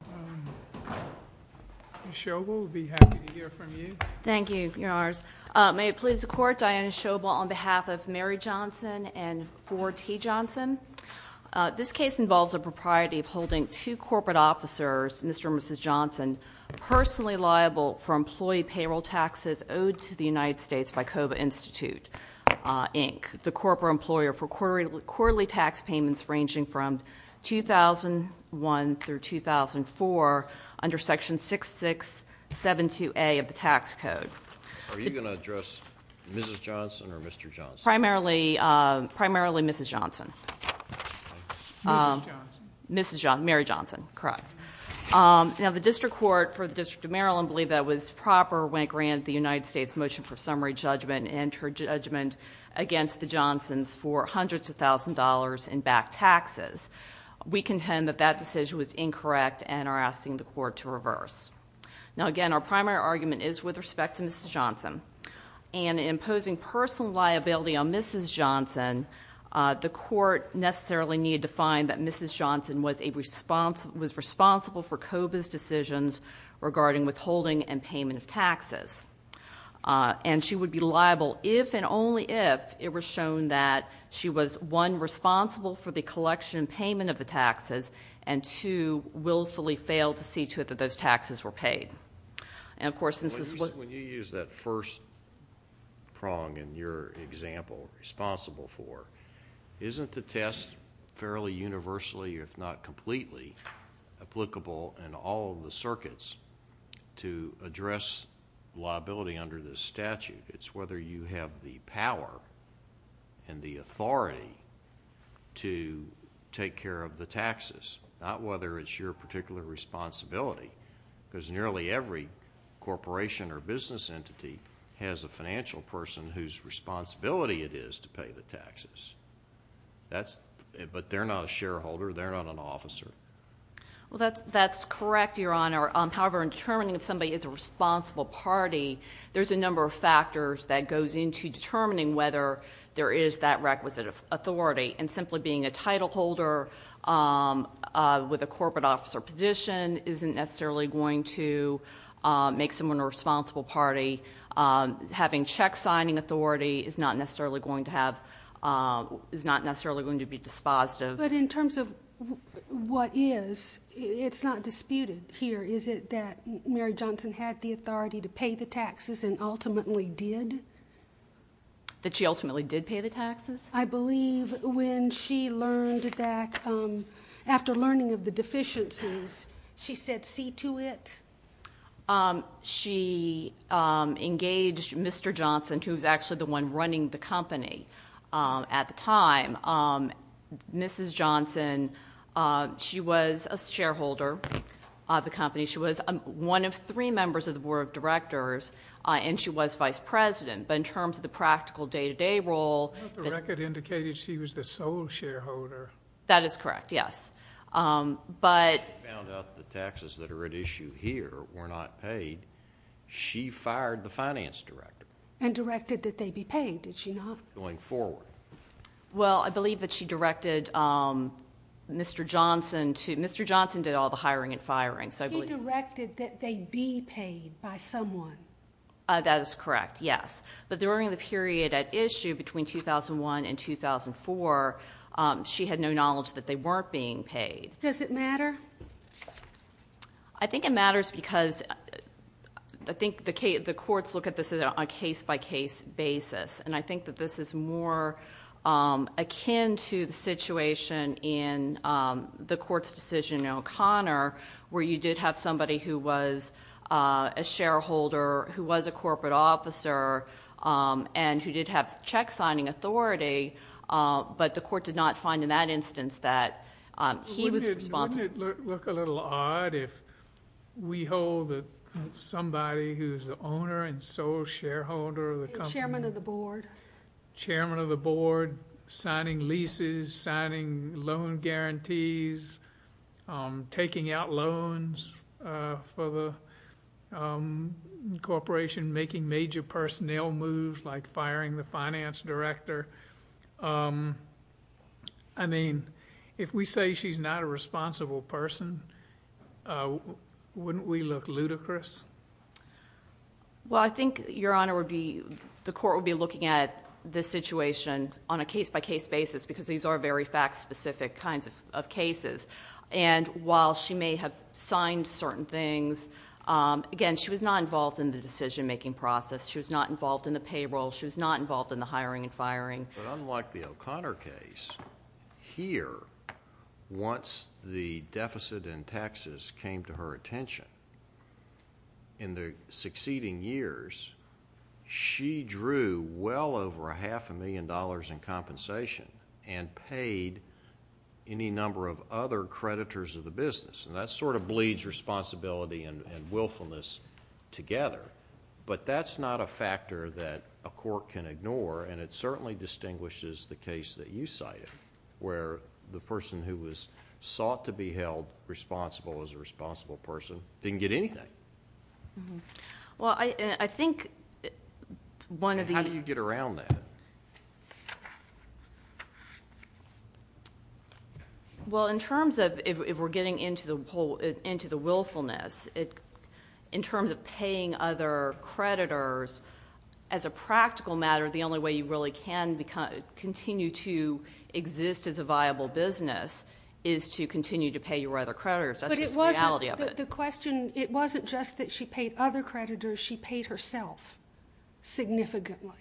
Diana Shobel, on behalf of Mary Johnson and 4T Johnson, this case involves the propriety of holding two corporate officers, Mr. and Mrs. Johnson, personally liable for employee payroll taxes owed to the United States by COBA Institute, Inc., the corporate employer for quarterly tax payments ranging from 2001 through 2004 under section 6672A of the tax code. Are you going to address Mrs. Johnson or Mr. Johnson? Primarily Mrs. Johnson. Mrs. Johnson? Mrs. Johnson. Mary Johnson, correct. Now, the District Court for the District of Maryland believed that was proper when it made its motion for summary judgment and her judgment against the Johnsons for hundreds of thousands of dollars in back taxes. We contend that that decision was incorrect and are asking the Court to reverse. Now, again, our primary argument is with respect to Mrs. Johnson. And imposing personal liability on Mrs. Johnson, the Court necessarily needed to find that Mrs. Johnson was responsible for COBA's decisions regarding withholding and payment of taxes. And she would be liable if and only if it was shown that she was, one, responsible for the collection and payment of the taxes, and two, willfully failed to see to it that those taxes were paid. And, of course, this is what... When you use that first prong in your example, responsible for, isn't the test fairly universally, if not completely, applicable in all of the circuits to address liability under this statute? It's whether you have the power and the authority to take care of the taxes, not whether it's your particular responsibility, because nearly every corporation or business entity has a financial person whose responsibility it is to pay the taxes. But they're not a shareholder, they're not an officer. Well, that's correct, Your Honor. However, in determining if somebody is a responsible party, there's a number of factors that goes into determining whether there is that requisite authority. And simply being a title holder with a corporate officer position isn't necessarily going to make someone a responsible party. Having check-signing authority is not necessarily going to be dispositive. But in terms of what is, it's not disputed here, is it, that Mary Johnson had the authority to pay the taxes and ultimately did? That she ultimately did pay the taxes? I believe when she learned that... after learning of the deficiencies, she said see to it? She engaged Mr. Johnson, who was actually the one running the company at the time. Mrs. Johnson, she was a shareholder of the company. She was one of three members of the board of directors, and she was vice president. But in terms of the practical day-to-day role... The record indicated she was the sole shareholder. That is correct, yes. She found out the taxes that are at issue here were not paid. She fired the finance director. And directed that they be paid, did she not? Going forward. Well, I believe that she directed Mr. Johnson to... Mr. Johnson did all the hiring and firing. She directed that they be paid by someone. That is correct, yes. But during the period at issue, between 2001 and 2004, she had no knowledge that they weren't being paid. Does it matter? I think it matters because... I think the courts look at this on a case-by-case basis. And I think that this is more akin to the situation in the court's decision in O'Connor... where you did have somebody who was a shareholder, who was a corporate officer, and who did have check signing authority. But the court did not find in that instance that he was responsible. Wouldn't it look a little odd if we hold that somebody who is the owner and sole shareholder of the company... The chairman of the board. Chairman of the board, signing leases, signing loan guarantees, taking out loans for the corporation, making major personnel moves... like firing the finance director. I mean, if we say she's not a responsible person, wouldn't we look ludicrous? Well, I think Your Honor would be... the court would be looking at this situation on a case-by-case basis... because these are very fact-specific kinds of cases. And, while she may have signed certain things, again, she was not involved in the decision-making process. She was not involved in the payroll. But, unlike the O'Connor case, here, once the deficit in taxes came to her attention... in the succeeding years, she drew well over a half a million dollars in compensation... and paid any number of other creditors of the business. And, that sort of bleeds responsibility and willfulness together. But, that's not a factor that a court can ignore. And, it certainly distinguishes the case that you cited... where the person who was sought to be held responsible, as a responsible person, didn't get anything. Well, I think one of the... How do you get around that? Well, in terms of... if we're getting into the willfulness... in terms of paying other creditors... as a practical matter, the only way you really can continue to exist as a viable business... is to continue to pay your other creditors. That's just the reality of it. But, it wasn't... the question... It wasn't just that she paid other creditors. She paid herself, significantly,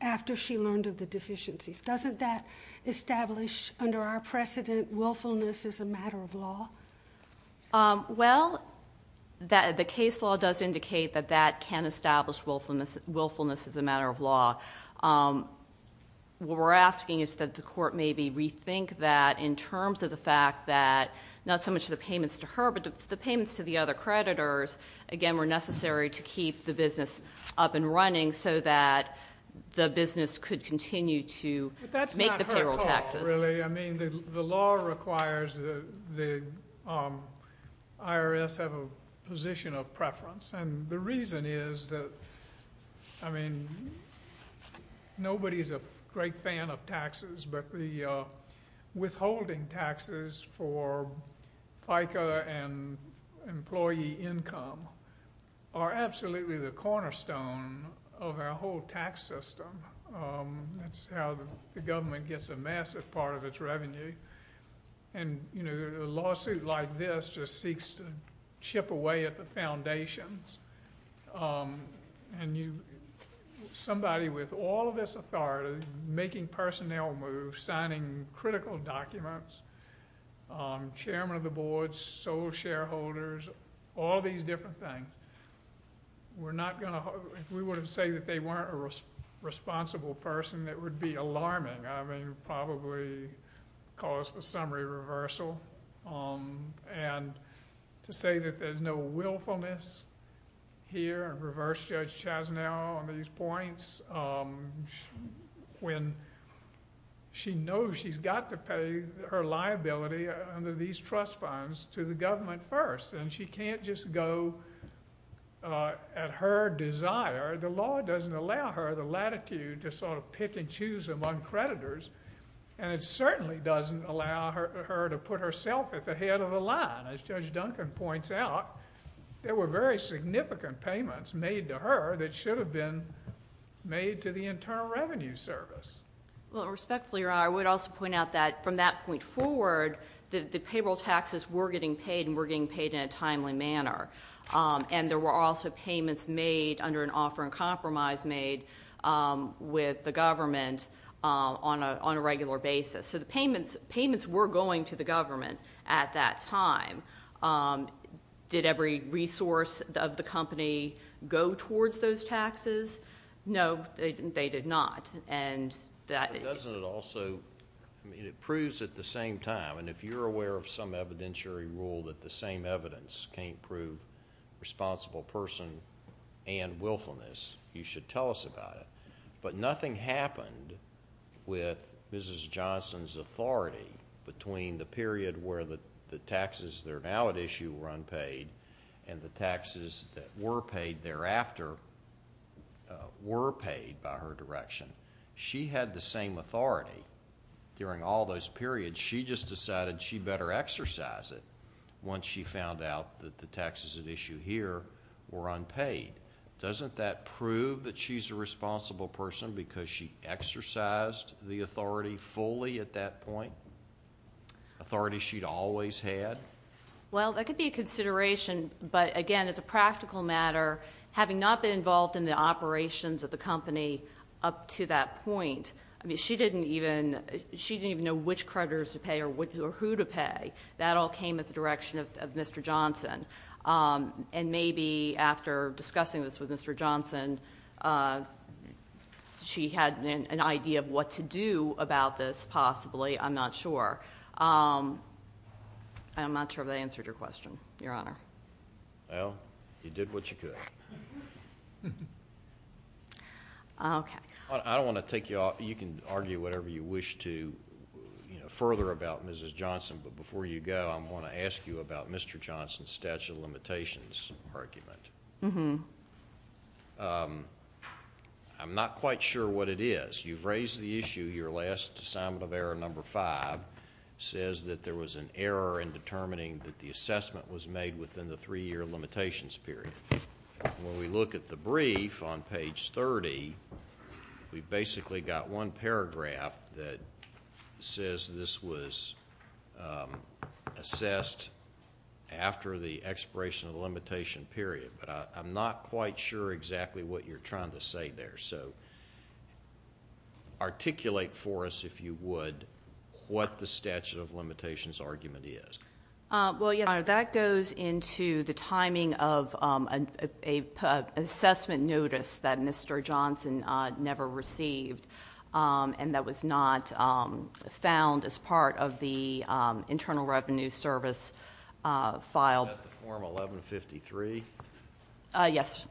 after she learned of the deficiencies. Doesn't that establish, under our precedent, willfulness as a matter of law? Well, the case law does indicate that that can establish willfulness as a matter of law. What we're asking is that the court maybe rethink that, in terms of the fact that... not so much the payments to her, but the payments to the other creditors... again, were necessary to keep the business up and running... so that the business could continue to make the payroll taxes. But, that's not her fault, really. I mean, the law requires that the IRS have a position of preference. And, the reason is that... I mean, nobody's a great fan of taxes, but the withholding taxes for FICA and employee income... are absolutely the cornerstone of our whole tax system. That's how the government gets a massive part of its revenue. And, you know, a lawsuit like this, just seeks to chip away at the foundations. And, you... somebody with all of this authority... making personnel moves, signing critical documents... Chairman of the Board, sole shareholders... all these different things... We're not going to... If we were to say that they weren't a responsible person, that would be alarming. I mean, probably cause for summary reversal. And, to say that there's no willfulness here... and reverse Judge Chazanel on these points... when she knows she's got to pay her liability under these trust funds... to the government first. And, she can't just go at her desire. The law doesn't allow her the latitude to sort of pick and choose among creditors. And, it certainly doesn't allow her to put herself at the head of the line. As Judge Duncan points out, there were very significant payments made to her... that should have been made to the Internal Revenue Service. Well, respectfully, Your Honor, I would also point out that from that point forward... the payroll taxes were getting paid and were getting paid in a timely manner. And, there were also payments made under an offer and compromise made... with the government on a regular basis. So, the payments were going to the government at that time. Did every resource of the company go towards those taxes? No, they did not. And, that... Doesn't it also... I mean, it proves at the same time. And, if you're aware of some evidentiary rule that the same evidence can't prove... responsible person and willfulness, you should tell us about it. But, nothing happened with Mrs. Johnson's authority... between the period where the taxes that are now at issue were unpaid... and the taxes that were paid thereafter, were paid by her direction. She had the same authority during all those periods. She just decided she better exercise it... once she found out that the taxes at issue here, were unpaid. Doesn't that prove that she's a responsible person... because she exercised the authority fully at that point? Authority she'd always had? Well, that could be a consideration. But, again, as a practical matter... I mean, she didn't even... she didn't even know which creditors to pay or who to pay. That all came at the direction of Mr. Johnson. And, maybe after discussing this with Mr. Johnson... she had an idea of what to do about this, possibly. I'm not sure. And, I'm not sure if that answered your question, Your Honor. Well, you did what you could. Okay. I don't want to take you off... You can argue whatever you wish to... you know, further about Mrs. Johnson. But, before you go, I want to ask you about Mr. Johnson's statute of limitations argument. Uh-huh. I'm not quite sure what it is. You've raised the issue. Your last assignment of error, number five... says that there was an error in determining that the assessment was made... within the three-year limitations period. When we look at the brief on page 30... we've basically got one paragraph that says this was assessed after the expiration of the limitation period. But, I'm not quite sure exactly what you're trying to say there. So, articulate for us, if you would, what the statute of limitations argument is. Well, Your Honor, that goes into the timing of an assessment notice that Mr. Johnson never received... and that was not found as part of the Internal Revenue Service file. Is that the form 11-53? Yes.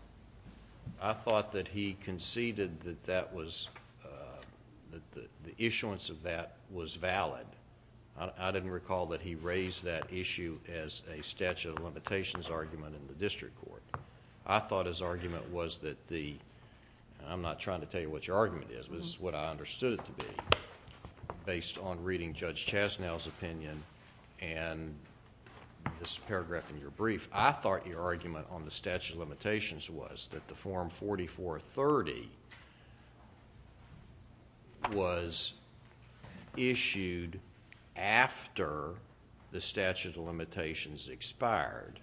I thought that he conceded that that was... that the issuance of that was valid. I didn't recall that he raised that issue as a statute of limitations argument in the district court. I thought his argument was that the... and I'm not trying to tell you what your argument is, but this is what I understood it to be... based on reading Judge Chasnow's opinion and this paragraph in your brief. I thought your argument on the statute of limitations was that the form 44-30... was issued after the statute of limitations expired...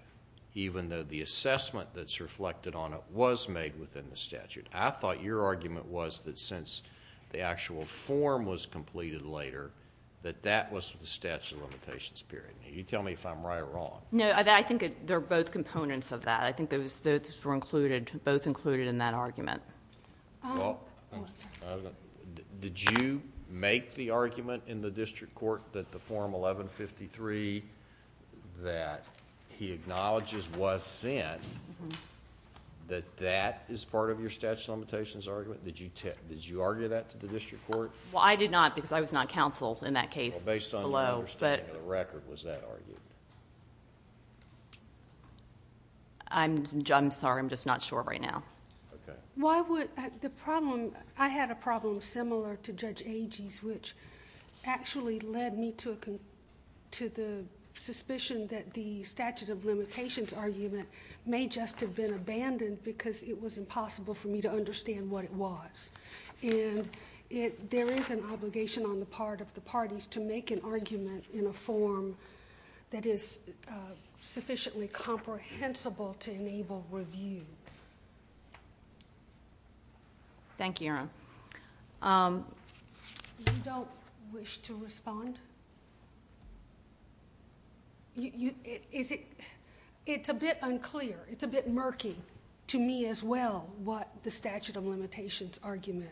even though the assessment that's reflected on it was made within the statute. I thought your argument was that since the actual form was completed later... that that was the statute of limitations period. Now, you tell me if I'm right or wrong. No, I think they're both components of that. I think those were included... both included in that argument. Did you make the argument in the district court that the form 11-53... that he acknowledges was sent... that that is part of your statute of limitations argument? Did you argue that to the district court? Well, I did not because I was not counsel in that case. Well, based on your understanding of the record, was that argued? I'm sorry. I'm just not sure right now. Why would... the problem... I had a problem similar to Judge Agee's... which actually led me to the suspicion that the statute of limitations argument... may just have been abandoned because it was impossible for me to understand what it was. There is an obligation on the part of the parties to make an argument in a form... that is sufficiently comprehensible to enable review. Thank you, Your Honor. You don't wish to respond? Is it... It's a bit unclear. It's a bit murky to me as well, what the statute of limitations argument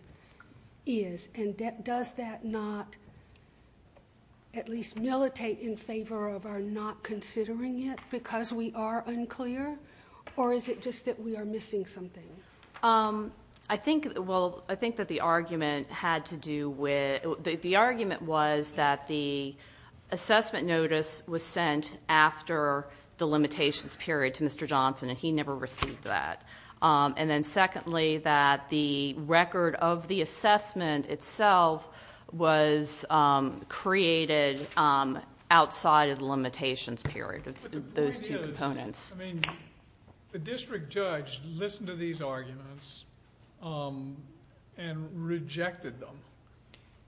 is. And, does that not... at least militate in favor of our not considering it because we are unclear? Or, is it just that we are missing something? I think... Well, I think that the argument had to do with... And, he never received that. And then, secondly, that the record of the assessment itself... was created outside of the limitations period of those two components. But, the point is... I mean, the district judge listened to these arguments... and rejected them.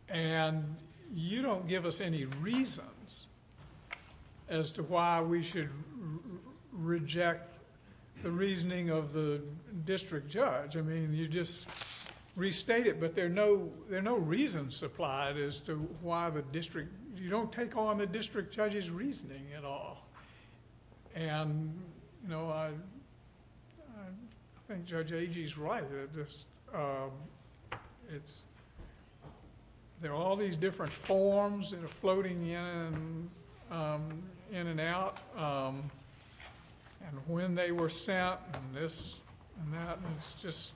And, you don't give us any reasons... the reasoning of the district judge. I mean, you just restate it. But, there are no reasons supplied as to why the district... You don't take on the district judge's reasoning at all. And, no, I... I think Judge Agee is right. It's... There are all these different forms that are floating in and out. And, when they were sent, and this and that... And, it's just...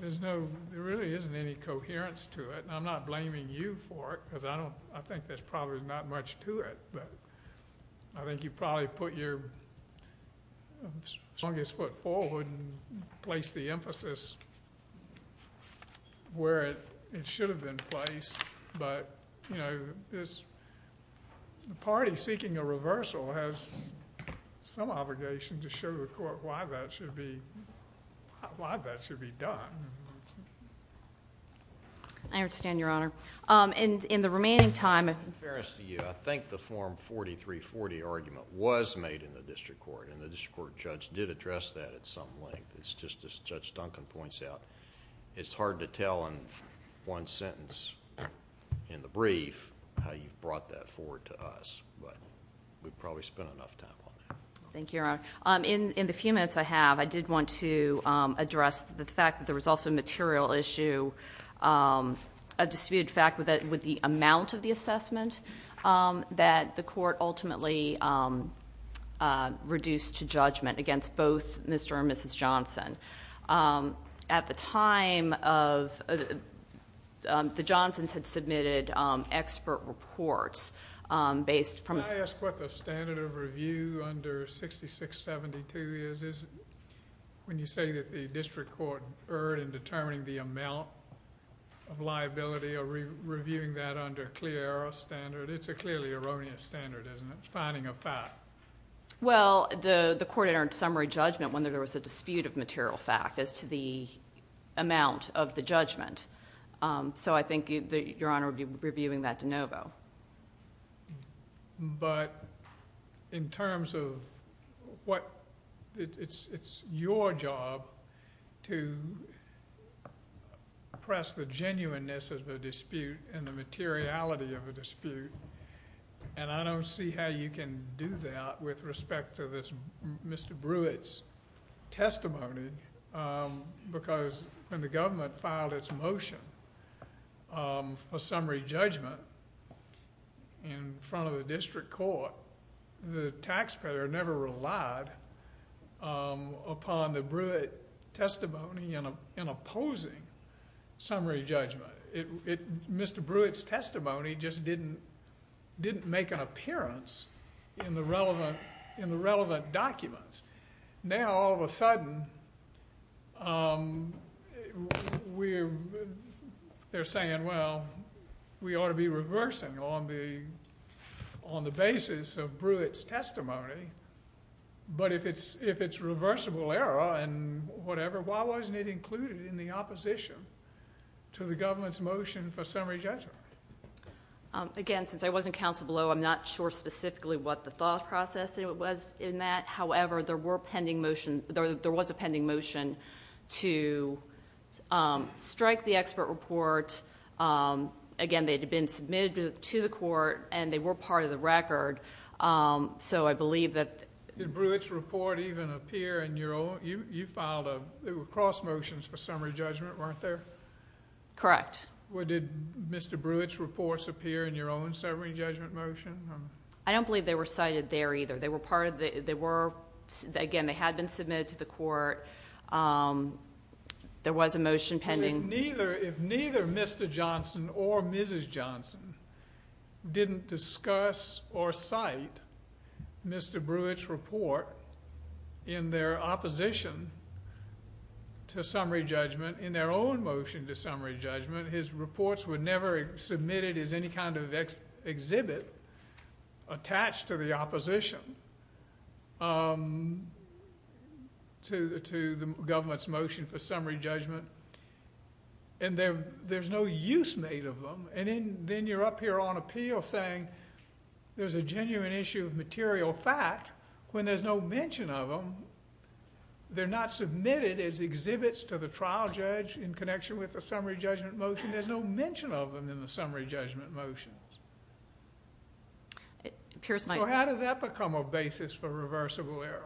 There's no... There really isn't any coherence to it. And, I'm not blaming you for it. Because, I don't... I think there's probably not much to it. But, I think you probably put your... strongest foot forward and placed the emphasis... where it should have been placed. But, you know, it's... The party seeking a reversal has... some obligation to show the court why that should be... why that should be done. I understand, Your Honor. And, in the remaining time... In fairness to you, I think the Form 4340 argument was made in the district court. And, the district court judge did address that at some length. It's just as Judge Duncan points out. It's hard to tell in one sentence... in the brief... how you brought that forward to us. But, we've probably spent enough time on that. Thank you, Your Honor. In the few minutes I have, I did want to... address the fact that there was also a material issue... a disputed fact with the amount of the assessment... that the court ultimately... reduced to judgment against both Mr. and Mrs. Johnson. At the time of... the Johnsons had submitted expert reports... based from... Can I ask what the standard of review under 6672 is? When you say that the district court erred in determining the amount... of liability or reviewing that under a clear error standard. It's a clearly erroneous standard, isn't it? It's finding a fact. Well, the court entered summary judgment when there was a dispute of material fact... as to the amount of the judgment. So, I think that Your Honor would be reviewing that de novo. But, in terms of what... It's your job to... press the genuineness of the dispute... and the materiality of the dispute. And, I don't see how you can do that... with respect to this Mr. Brewitt's testimony. Because, when the government filed its motion... for summary judgment... in front of the district court... the taxpayer never relied... upon the Brewitt testimony... in opposing summary judgment. Mr. Brewitt's testimony just didn't... didn't make an appearance... in the relevant documents. Now, all of a sudden... we're... they're saying, well... we ought to be reversing on the... on the basis of Brewitt's testimony. But, if it's reversible error and whatever... why wasn't it included in the opposition... to the government's motion for summary judgment? Again, since I wasn't counsel below... I'm not sure specifically what the thought process was in that. However, there were pending motions... there was a pending motion... to strike the expert report. Again, they had been submitted to the court... and they were part of the record. So, I believe that... Did Brewitt's report even appear in your own... you filed a... there were cross motions for summary judgment, weren't there? Correct. Well, did Mr. Brewitt's reports appear... in your own summary judgment motion? I don't believe they were cited there either. They were part of the... they were... again, they had been submitted to the court. There was a motion pending... If neither Mr. Johnson or Mrs. Johnson... didn't discuss or cite Mr. Brewitt's report... in their opposition to summary judgment... in their own motion to summary judgment... his reports were never submitted as any kind of exhibit... attached to the opposition... to the government's motion for summary judgment... and there's no use made of them... and then you're up here on appeal saying... there's a genuine issue of material fact... when there's no mention of them... they're not submitted as exhibits to the trial judge... in connection with the summary judgment motion... there's no mention of them in the summary judgment motions. So, how did that become a basis for reversal... of an error?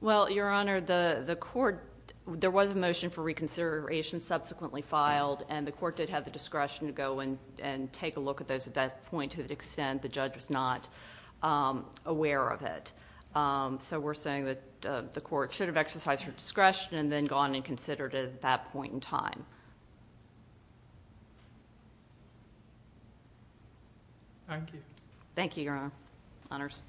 Well, Your Honor, the court... there was a motion for reconsideration subsequently filed... and the court did have the discretion to go and... and take a look at those at that point... to the extent the judge was not aware of it. So, we're saying that the court should have exercised her discretion... and then gone and considered it at that point in time. Thank you. Thank you, Your Honor. Honors.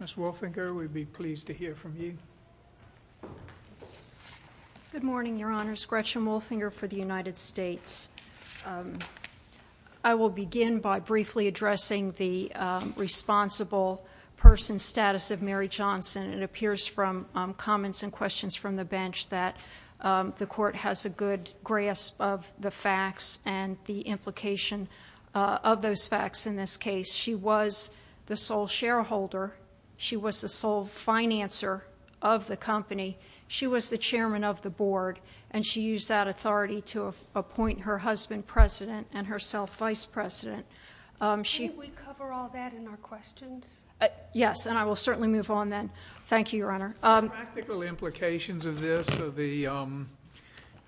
Ms. Wolfinger, we'd be pleased to hear from you. Good morning, Your Honors. Gretchen Wolfinger for the United States. I will begin by briefly addressing the... responsible person's status of Mary Johnson. It appears from comments and questions from the bench that... the court has a good grasp of the facts... and the court has a good grasp of the facts... and the implication of those facts in this case. She was the sole shareholder. She was the sole financer of the company. She was the chairman of the board... and she used that authority to appoint her husband president... and herself vice president. Can we cover all that in our questions? Thank you, Your Honor. The practical implications of this are the...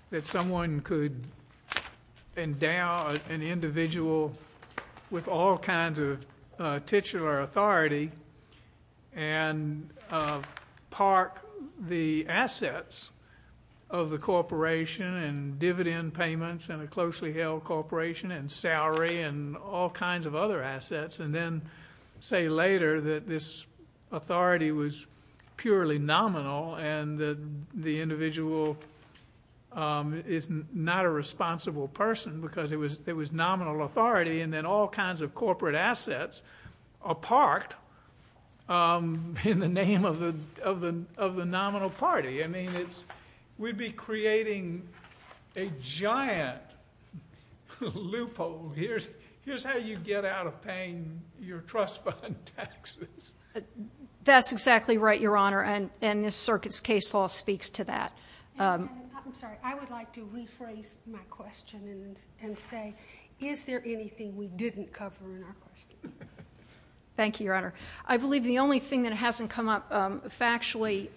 that someone could endow an individual... with all kinds of titular authority... and park the assets of the corporation... and dividend payments in a closely held corporation... and salary and all kinds of other assets... and then say later that this authority was purely nominal... and that the individual is not a responsible person... because it was nominal authority... and then all kinds of corporate assets are parked... in the name of the nominal party. I mean it's... we'd be creating a giant loophole. Here's how you get out of paying your trust fund taxes. That's exactly right, Your Honor... and this circuit's case law speaks to that. I'm sorry. I would like to rephrase my question... and say is there anything we didn't cover in our questions? Thank you, Your Honor. I believe the only thing that hasn't come up factually...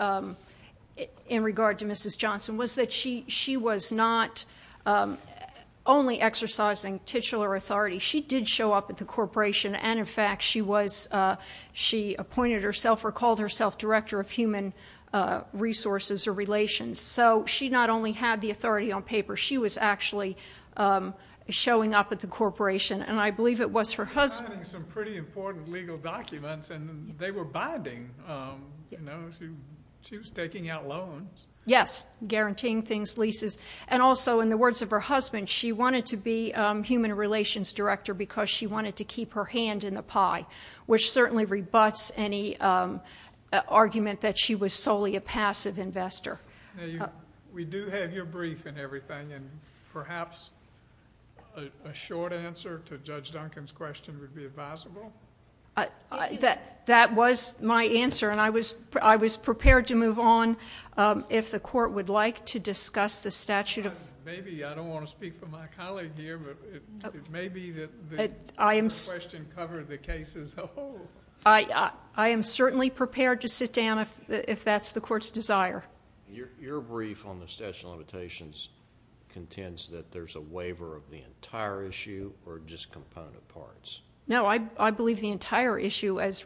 in regard to Mrs. Johnson... was that she was not only exercising titular authority. She did show up at the corporation... and, in fact, she was... she appointed herself or called herself... Director of Human Resources or Relations. So, she not only had the authority on paper... she was actually showing up at the corporation... and I believe it was her husband... She was signing some pretty important legal documents... and they were binding. You know, she was taking out loans. Yes, guaranteeing things, leases... and also, in the words of her husband... she wanted to be Human Relations Director... because she wanted to keep her hand in the pie... which certainly rebuts any argument... that she was solely a passive investor. Now, you... We do have your brief and everything... and perhaps a short answer to Judge Duncan's question... would be advisable? That was my answer and I was prepared to move on... if the court would like to discuss the statute of... Maybe, I don't want to speak for my colleague here... but, it may be that the question covered the case as a whole. I am certainly prepared to sit down... if that's the court's desire. Your brief on the statute of limitations... contends that there's a waiver of the entire issue... No, I believe the entire issue... is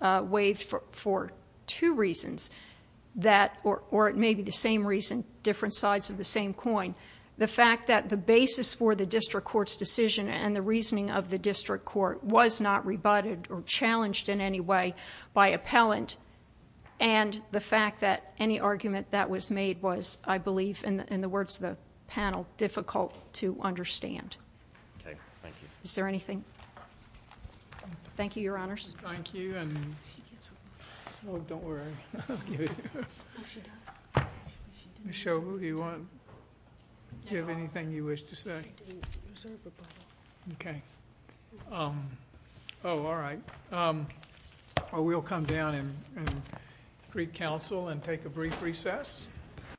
waived for two reasons... that, or it may be the same reason... different sides of the same coin. The fact that the basis for the District Court's decision... and the reasoning of the District Court... was not rebutted or challenged in any way... by appellant... and the fact that any argument that was made was... I believe in the words of the panel... difficult to understand. Okay, thank you. Is there anything? Thank you, Your Honors. Thank you and... Oh, don't worry. I'll give you... Ms. Shobu, do you want... Do you have anything you wish to say? Okay. Oh, all right. We'll come down and greet counsel and take a brief recess.